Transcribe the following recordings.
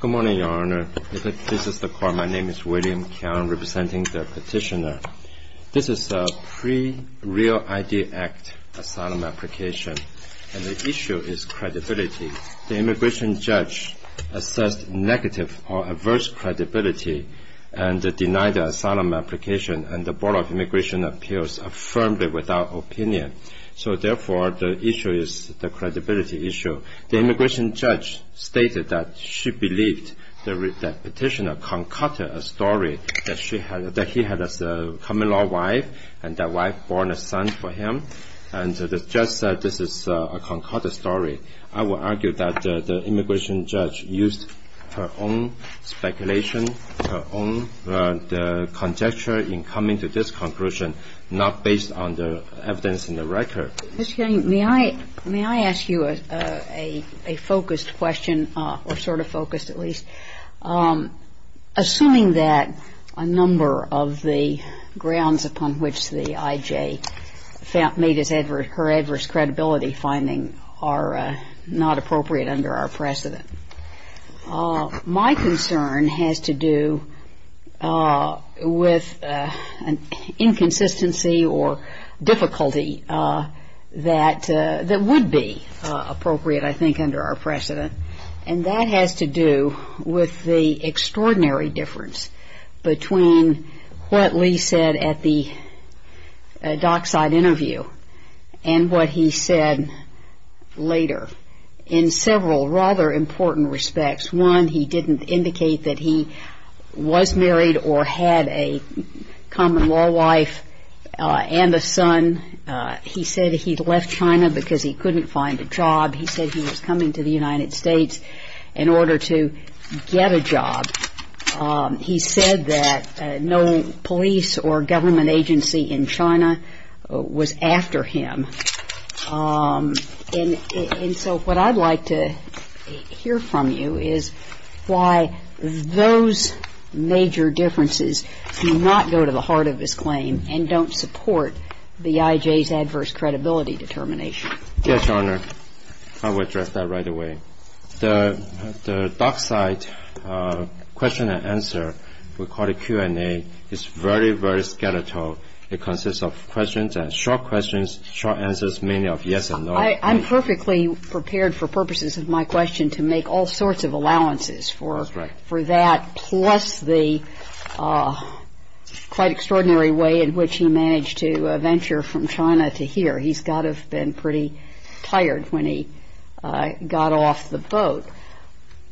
Good morning, Your Honor. This is the court. My name is William Keon, representing the petitioner. This is a pre-Real ID Act asylum application, and the issue is credibility. The immigration judge assessed negative or adverse credibility and denied the asylum application, and the Board of Immigration Appeals affirmed it without opinion. So, therefore, the issue is the credibility issue. The immigration judge stated that she believed that the petitioner concocted a story that he had a common-law wife, and that wife born a son for him. And the judge said this is a concocted story. I would argue that the immigration judge used her own speculation, her own conjecture in coming to this conclusion, not based on the evidence in the record. Ms. King, may I ask you a focused question, or sort of focused at least? Assuming that a number of the grounds upon which the I.J. made her adverse credibility finding are not appropriate under our precedent, my concern has to do with an inconsistency or difficulty that would be appropriate, I think, under our precedent. And that has to do with the extraordinary difference between what Lee said at the dockside interview and what he said later in several rather important respects. One, he didn't indicate that he was married or had a common-law wife and a son. He said he'd left China because he couldn't find a job. He said he was coming to the United States in order to get a job. He said that no police or government agency in China was after him. And so what I'd like to hear from you is why those major differences do not go to the heart of his claim and don't support the I.J.'s adverse credibility determination. Yes, Your Honor. I will address that right away. The dockside question and answer, we call it Q&A, is very, very skeletal. It consists of questions and short questions, short answers, mainly of yes and no. I'm perfectly prepared for purposes of my question to make all sorts of allowances for that, plus the quite extraordinary way in which he managed to venture from China to here. He's got to have been pretty tired when he got off the boat.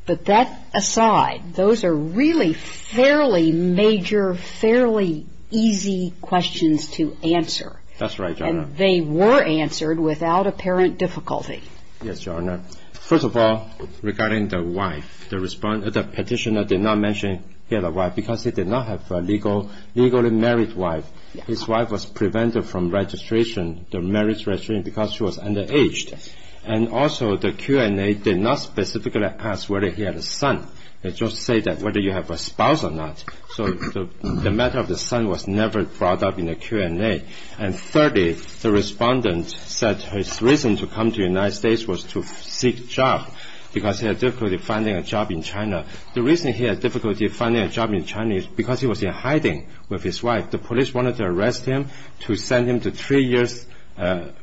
But that aside, those are really fairly major, fairly easy questions to answer. That's right, Your Honor. And they were answered without apparent difficulty. Yes, Your Honor. First of all, regarding the wife, the petitioner did not mention he had a wife because he did not have a legally married wife. His wife was prevented from registration, the marriage registration, because she was underage. And also the Q&A did not specifically ask whether he had a son. They just say whether you have a spouse or not. So the matter of the son was never brought up in the Q&A. And thirdly, the respondent said his reason to come to the United States was to seek a job because he had difficulty finding a job in China. The reason he had difficulty finding a job in China is because he was in hiding with his wife. The police wanted to arrest him to send him to three years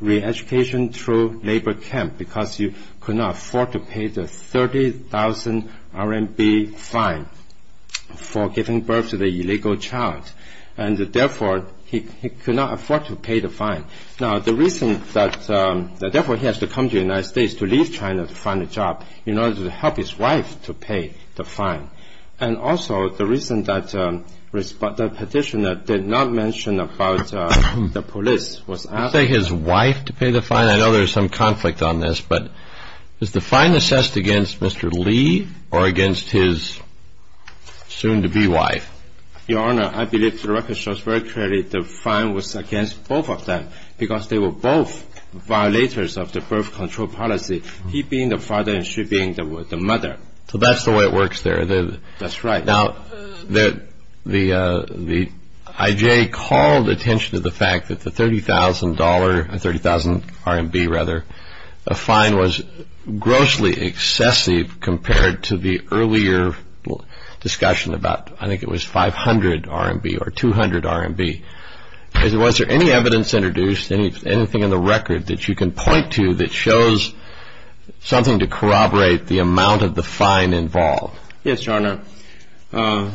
re-education through labor camp because he could not afford to pay the 30,000 RMB fine for giving birth to the illegal child. And therefore he could not afford to pay the fine. Now the reason that therefore he has to come to the United States to leave China to find a job in order to help his wife to pay the fine. And also the reason that the petitioner did not mention about the police was asked... You say his wife to pay the fine? I know there's some conflict on this. But is the fine assessed against Mr. Li or against his soon-to-be wife? Your Honor, I believe the record shows very clearly the fine was against both of them because they were both violators of the birth control policy, he being the father and she being the mother. So that's the way it works there. That's right. Now the IJ called attention to the fact that the 30,000 RMB fine was grossly excessive compared to the earlier discussion about, I think it was 500 RMB or 200 RMB. Was there any evidence introduced, anything in the record that you can point to that shows something to corroborate the amount of the fine involved? Yes, Your Honor.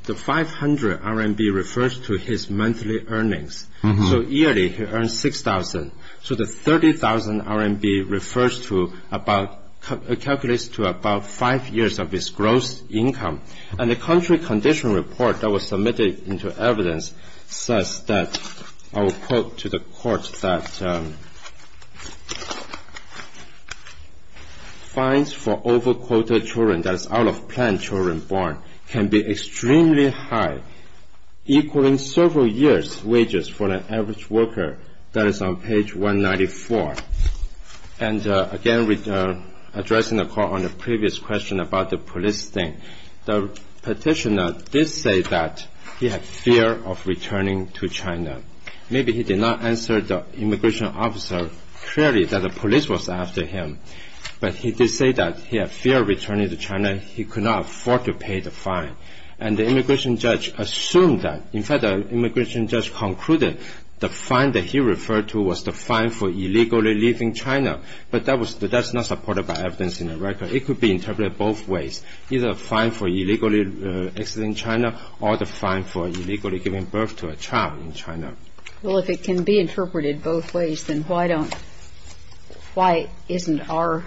The 500 RMB refers to his monthly earnings. So yearly he earns 6,000. So the 30,000 RMB calculates to about five years of his gross income. And the country condition report that was submitted into evidence says that, I will quote to the court, that fines for over-quoted children, that is out-of-plan children born, can be extremely high, equaling several years' wages for an average worker. That is on page 194. And again, addressing the court on the previous question about the police thing, the petitioner did say that he had fear of returning to China. Maybe he did not answer the immigration officer clearly that the police was after him. But he did say that he had fear of returning to China. He could not afford to pay the fine. And the immigration judge assumed that. In fact, the immigration judge concluded the fine that he referred to was the fine for illegally leaving China. But that's not supported by evidence in the record. It could be interpreted both ways, either a fine for illegally exiting China or the fine for illegally giving birth to a child in China. Well, if it can be interpreted both ways, then why isn't our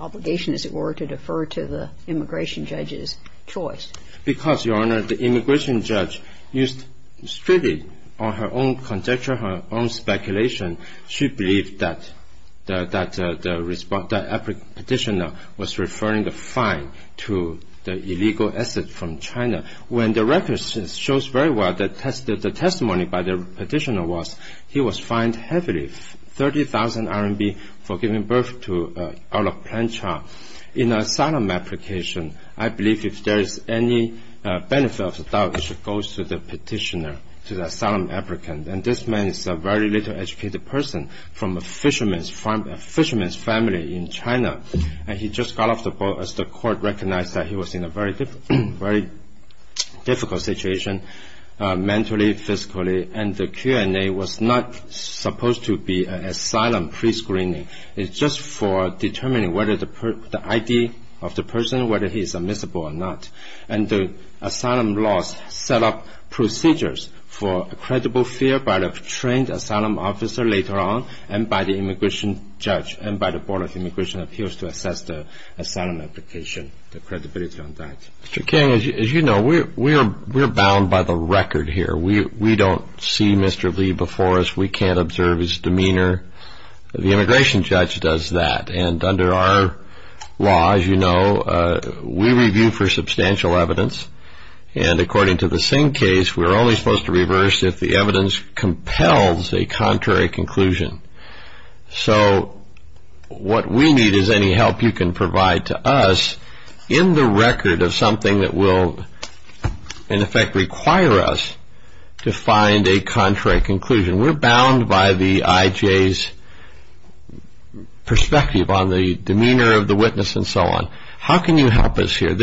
obligation, as it were, to defer to the immigration judge's choice? Because, Your Honor, the immigration judge used strictly her own conjecture, her own speculation. She believed that the petitioner was referring the fine to the illegal exit from China. When the record shows very well that the testimony by the petitioner was, he was fined heavily, 30,000 RMB, for giving birth to an out-of-plan child. In an asylum application, I believe if there is any benefit of the doubt, it should go to the petitioner, to the asylum applicant. And this man is a very little-educated person from a fisherman's family in China. And he just got off the boat as the court recognized that he was in a very difficult situation mentally, physically. And the Q&A was not supposed to be an asylum prescreening. It's just for determining whether the ID of the person, whether he's admissible or not. And the asylum laws set up procedures for credible fear by the trained asylum officer later on and by the immigration judge and by the Board of Immigration Appeals to assess the asylum application, the credibility on that. Mr. Kang, as you know, we are bound by the record here. We don't see Mr. Lee before us. We can't observe his demeanor. The immigration judge does that. And under our law, as you know, we review for substantial evidence. And according to the Singh case, we're only supposed to reverse if the evidence compels a contrary conclusion. So what we need is any help you can provide to us in the record of something that will, in effect, require us to find a contrary conclusion. We're bound by the IJ's perspective on the demeanor of the witness and so on. How can you help us here?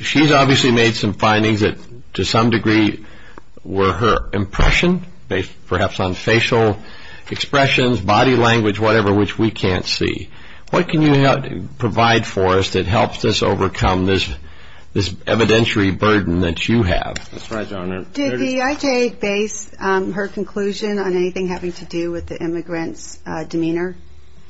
She's obviously made some findings that to some degree were her impression, based perhaps on facial expressions, body language, whatever, which we can't see. What can you provide for us that helps us overcome this evidentiary burden that you have? That's right, Your Honor. Did the IJ base her conclusion on anything having to do with the immigrant's demeanor?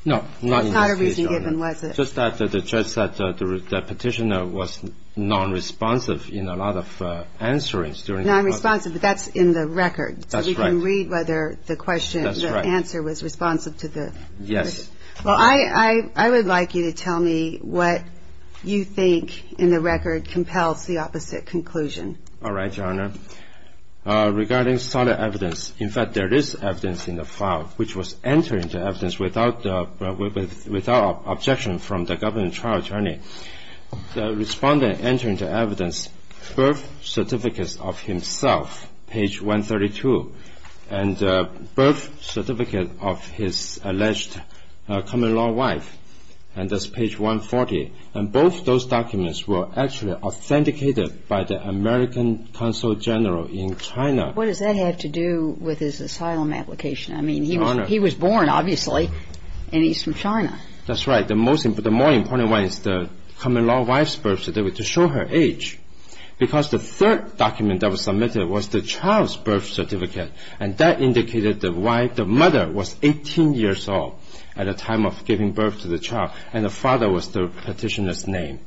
No, not in this case, Your Honor. It's not a reason given, was it? Just that the judge said the petitioner was nonresponsive in a lot of answerings during the process. Nonresponsive, but that's in the record. That's right. So we can read whether the question, the answer was responsive to the question. Yes. Well, I would like you to tell me what you think in the record compels the opposite conclusion. All right, Your Honor. Regarding solid evidence, in fact, there is evidence in the file, which was entered into evidence without objection from the government trial attorney. The respondent entered into evidence birth certificates of himself, page 132, and birth certificate of his alleged common-law wife, and that's page 140. And both those documents were actually authenticated by the American consul general in China. What does that have to do with his asylum application? I mean, he was born, obviously, and he's from China. That's right. The more important one is the common-law wife's birth certificate to show her age, because the third document that was submitted was the child's birth certificate, and that indicated the mother was 18 years old at the time of giving birth to the child, and the father was the petitioner's name.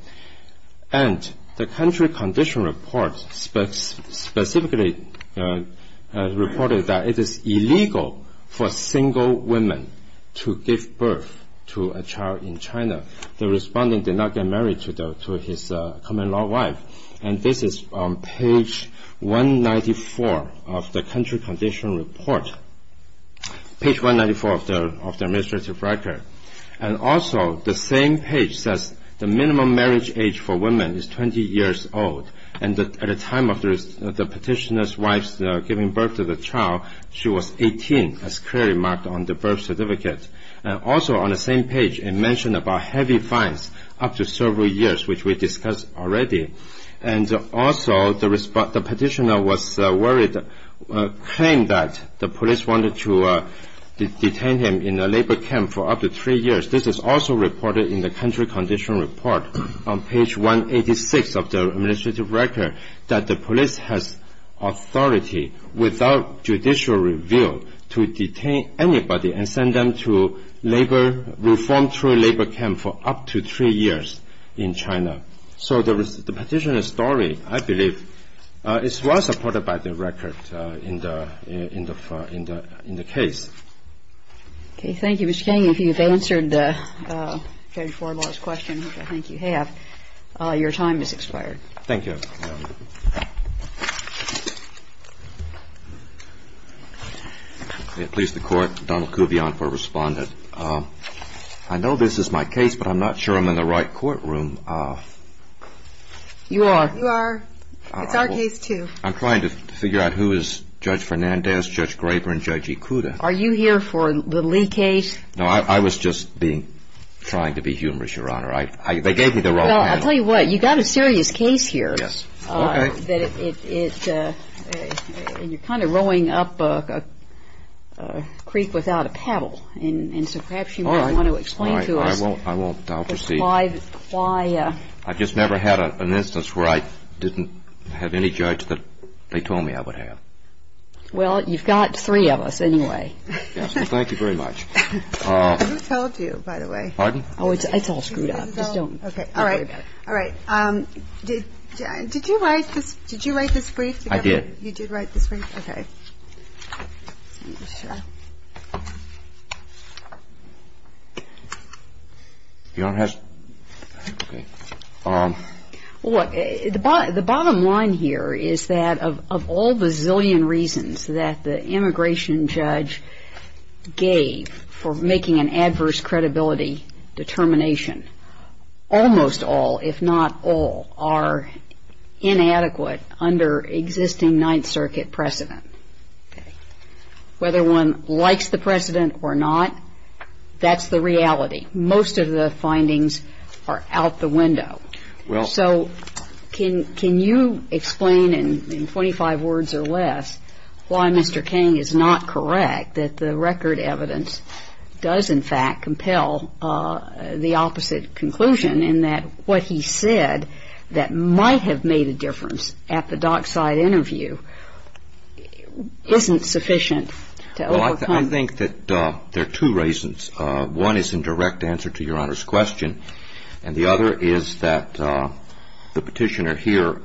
And the country condition report specifically reported that it is illegal for single women to give birth to a child in China. The respondent did not get married to his common-law wife, and this is on page 194 of the country condition report, page 194 of the administrative record. And also the same page says the minimum marriage age for women is 20 years old, and at the time of the petitioner's wife's giving birth to the child, she was 18, as clearly marked on the birth certificate. And also on the same page, it mentioned about heavy fines up to several years, which we discussed already. And also the petitioner was worried, claimed that the police wanted to detain him in a labor camp for up to three years. This is also reported in the country condition report on page 186 of the administrative record, that the police has authority without judicial review to detain anybody and send them to labor, reform labor camp for up to three years in China. So the petitioner's story, I believe, is well supported by the record in the case. Okay. Thank you, Mr. King. If you've answered the page 4 last question, which I think you have, your time has expired. Thank you. May it please the Court, Donald Kuvion for Respondent. I know this is my case, but I'm not sure I'm in the right courtroom. You are. You are. It's our case, too. I'm trying to figure out who is Judge Fernandez, Judge Graber, and Judge Ikuda. Are you here for the Lee case? No, I was just trying to be humorous, Your Honor. They gave me the wrong name. Well, I'll tell you what. You've got a serious case here. Yes. Okay. And you're kind of rowing up a creek without a paddle. And so perhaps you might want to explain to us why. All right. I won't. I'll proceed. I just never had an instance where I didn't have any judge that they told me I would have. Well, you've got three of us anyway. Yes. Thank you very much. Who told you, by the way? Pardon? Oh, it's all screwed up. Just don't worry about it. Okay. All right. Did you write this brief? I did. You did write this brief? Okay. The bottom line here is that of all the zillion reasons that the immigration judge gave for making an adverse credibility determination, almost all, if not all, are inadequate under existing Ninth Circuit precedent. Whether one likes the precedent or not, that's the reality. Most of the findings are out the window. So can you explain in 25 words or less why Mr. King is not correct that the record evidence does, in fact, compel the opposite conclusion in that what he said that might have made a difference at the dockside interview isn't sufficient? Well, I think that there are two reasons. One is in direct answer to Your Honor's question, and the other is that the petitioner here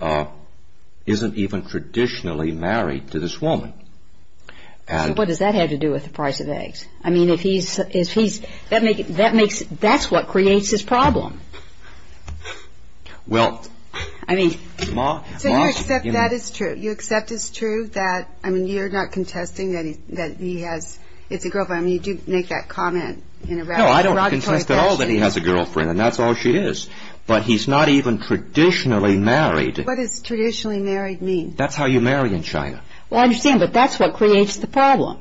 isn't even traditionally married to this woman. What does that have to do with the price of eggs? I mean, if he's – that makes – that's what creates his problem. Well, I mean – So you accept that is true? You accept it's true that – I mean, you're not contesting that he has – it's a girlfriend. I mean, you do make that comment in a rather derogatory fashion. No, I don't contest at all that he has a girlfriend, and that's all she is. But he's not even traditionally married. What does traditionally married mean? That's how you marry in China. Well, I understand, but that's what creates the problem,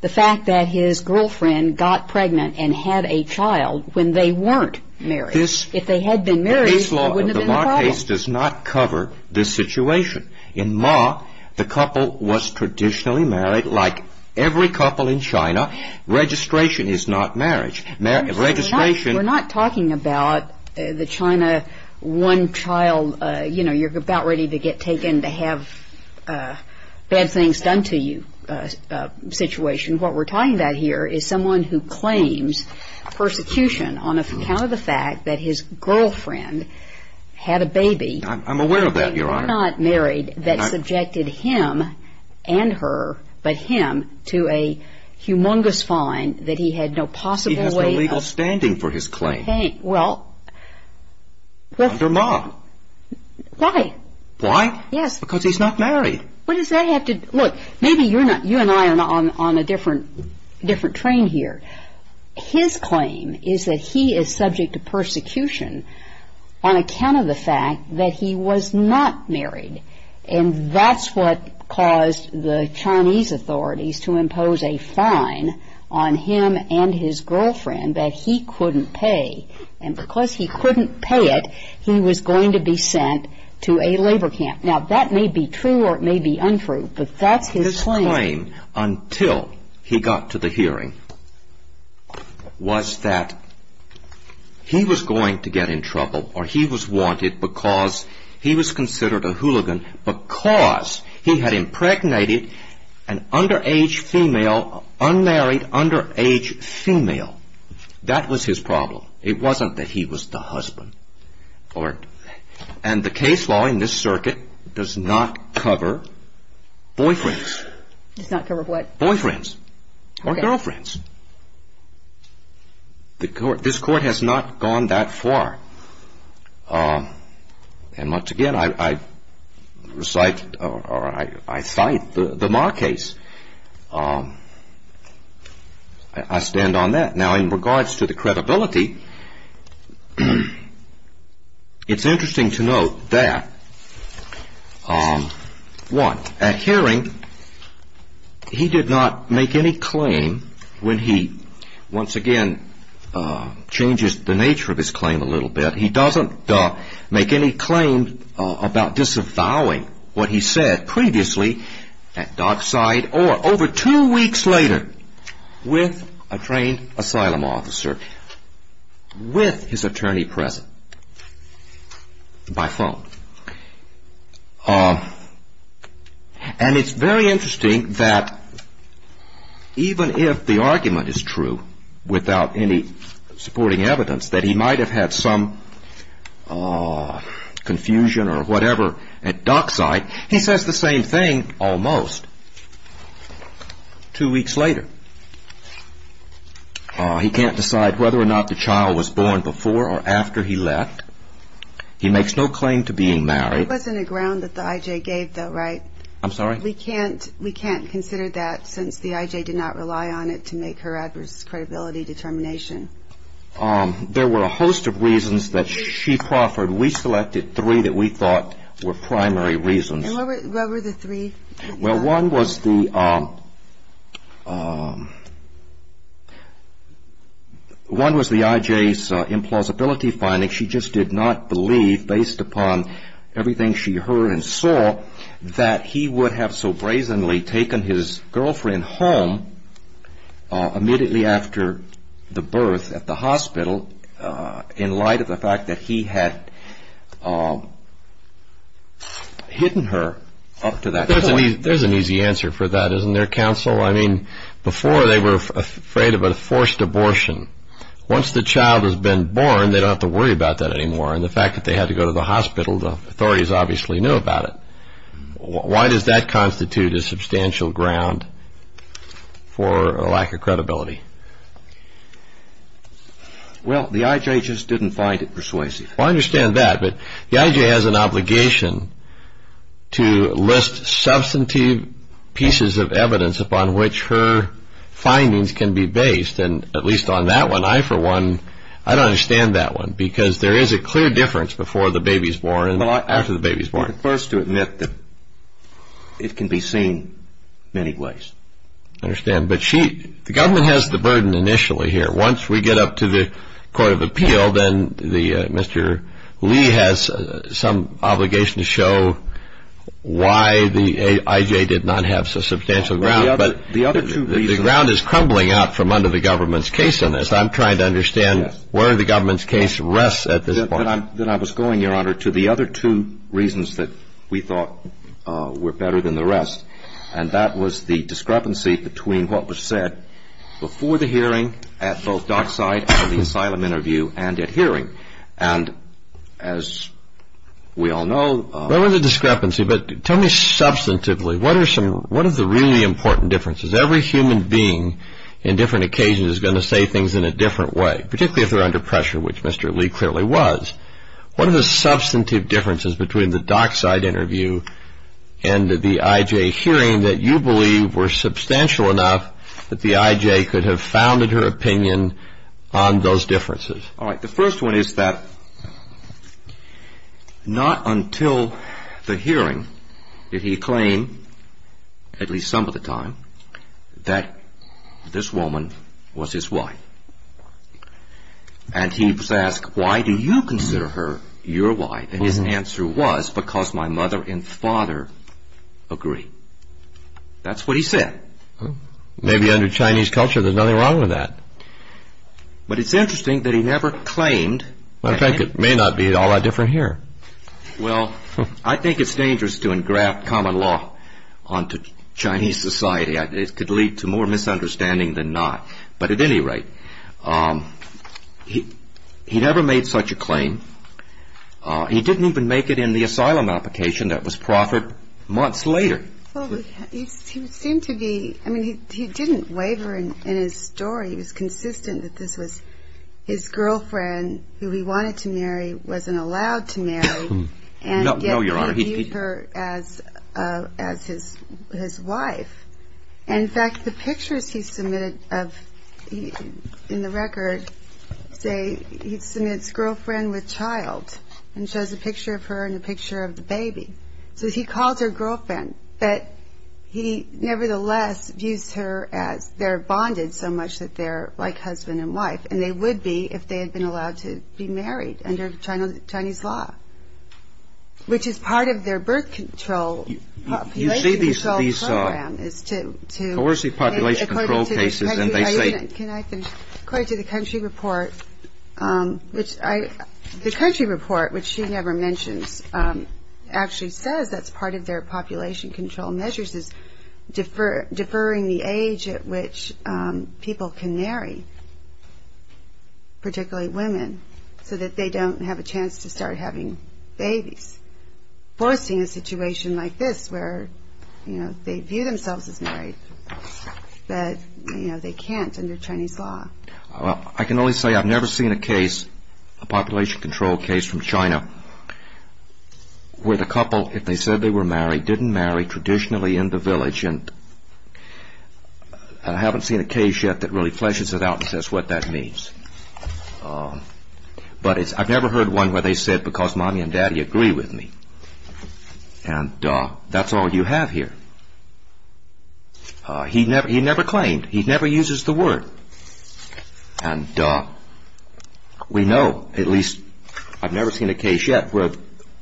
the fact that his girlfriend got pregnant and had a child when they weren't married. If they had been married, there wouldn't have been a problem. But the Ma case does not cover this situation. In Ma, the couple was traditionally married like every couple in China. Registration is not marriage. Registration – We're not talking about the China one child – you know, you're about ready to get taken to have bad things done to you situation. What we're talking about here is someone who claims persecution on account of the fact that his girlfriend had a baby – I'm aware of that, Your Honor. – when they were not married that subjected him and her, but him, to a humongous fine that he had no possible way of – He has no legal standing for his claim. Well – Under Ma. Why? Why? Yes. Because he's not married. Look, maybe you and I are on a different train here. His claim is that he is subject to persecution on account of the fact that he was not married, and that's what caused the Chinese authorities to impose a fine on him and his girlfriend that he couldn't pay. And because he couldn't pay it, he was going to be sent to a labor camp. Now, that may be true or it may be untrue, but that's his claim. His claim, until he got to the hearing, was that he was going to get in trouble, or he was wanted because he was considered a hooligan because he had impregnated an underage female – unmarried, underage female. That was his problem. It wasn't that he was the husband. And the case law in this circuit does not cover boyfriends. Does not cover what? Boyfriends. Okay. Or girlfriends. This Court has not gone that far. And once again, I cite the Ma case. I stand on that. Now, in regards to the credibility, it's interesting to note that, one, at hearing, he did not make any claim. When he, once again, changes the nature of his claim a little bit, he doesn't make any claim about disavowing what he said previously at dockside or, over two weeks later, with a trained asylum officer, with his attorney present, by phone. And it's very interesting that, even if the argument is true, without any supporting evidence, that he might have had some confusion or whatever at dockside, he says the same thing, almost, two weeks later. He can't decide whether or not the child was born before or after he left. He makes no claim to being married. It wasn't a ground that the I.J. gave, though, right? I'm sorry? We can't consider that since the I.J. did not rely on it to make her adverse credibility determination. There were a host of reasons that she proffered. We selected three that we thought were primary reasons. And what were the three? Well, one was the I.J.'s implausibility finding. She just did not believe, based upon everything she heard and saw, that he would have so brazenly taken his girlfriend home immediately after the birth at the hospital in light of the fact that he had hidden her up to that point. There's an easy answer for that, isn't there, counsel? I mean, before they were afraid of a forced abortion. Once the child has been born, they don't have to worry about that anymore. And the fact that they had to go to the hospital, the authorities obviously knew about it. Why does that constitute a substantial ground for a lack of credibility? Well, the I.J. just didn't find it persuasive. I understand that, but the I.J. has an obligation to list substantive pieces of evidence upon which her findings can be based. And at least on that one, I for one, I don't understand that one, because there is a clear difference before the baby's born and after the baby's born. First to admit that it can be seen in many ways. I understand, but the government has the burden initially here. Once we get up to the court of appeal, then Mr. Lee has some obligation to show why the I.J. did not have substantial ground. But the ground is crumbling out from under the government's case on this. I'm trying to understand where the government's case rests at this point. Then I was going, Your Honor, to the other two reasons that we thought were better than the rest, and that was the discrepancy between what was said before the hearing at both Dockside and the asylum interview and at hearing. And as we all know... There was a discrepancy, but tell me substantively, what are the really important differences? Every human being in different occasions is going to say things in a different way, particularly if they're under pressure, which Mr. Lee clearly was. What are the substantive differences between the Dockside interview and the I.J. hearing that you believe were substantial enough that the I.J. could have founded her opinion on those differences? All right, the first one is that not until the hearing did he claim, at least some of the time, that this woman was his wife. And he was asked, Why do you consider her your wife? And his answer was, Because my mother and father agree. That's what he said. Maybe under Chinese culture there's nothing wrong with that. But it's interesting that he never claimed... In fact, it may not be all that different here. Well, I think it's dangerous to engraft common law onto Chinese society. It could lead to more misunderstanding than not. But at any rate, he never made such a claim. He didn't even make it in the asylum application that was proffered months later. Well, he seemed to be... I mean, he didn't waver in his story. He was consistent that this was his girlfriend who he wanted to marry, wasn't allowed to marry. No, Your Honor. And yet he viewed her as his wife. In fact, the pictures he submitted in the record say he submits girlfriend with child and shows a picture of her and a picture of the baby. So he calls her girlfriend. But he nevertheless views her as they're bonded so much that they're like husband and wife. And they would be if they had been allowed to be married under Chinese law, which is part of their birth control program is to... Coercive population control cases and they say... Can I finish? According to the country report, which I... The country says that's part of their population control measures is deferring the age at which people can marry, particularly women, so that they don't have a chance to start having babies. Forcing a situation like this where, you know, they view themselves as married, but, you know, they can't under Chinese law. I can only say I've never seen a case, a population control case from China, where the couple, if they said they were married, didn't marry, traditionally in the village. I haven't seen a case yet that really fleshes it out and says what that means. But I've never heard one where they said, because mommy and daddy agree with me. And that's all you have here. He never claimed. He never uses the word. And we know, at least, I've never seen a case yet where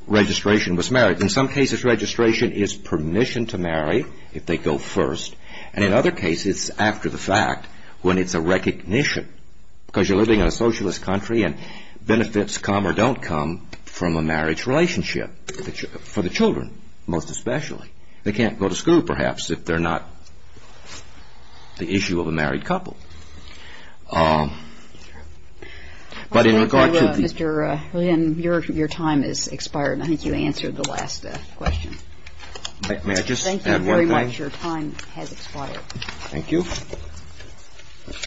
registration was married. In some cases, registration is permission to marry if they go first. And in other cases, after the fact, when it's a recognition. Because you're living in a socialist country and benefits come or don't come from a marriage relationship. For the children, most especially. They can't go to school, perhaps, if they're not the issue of a married couple. But in regard to the... Mr. Lin, your time has expired. I think you answered the last question. May I just add one thing? Thank you very much. Your time has expired. Thank you.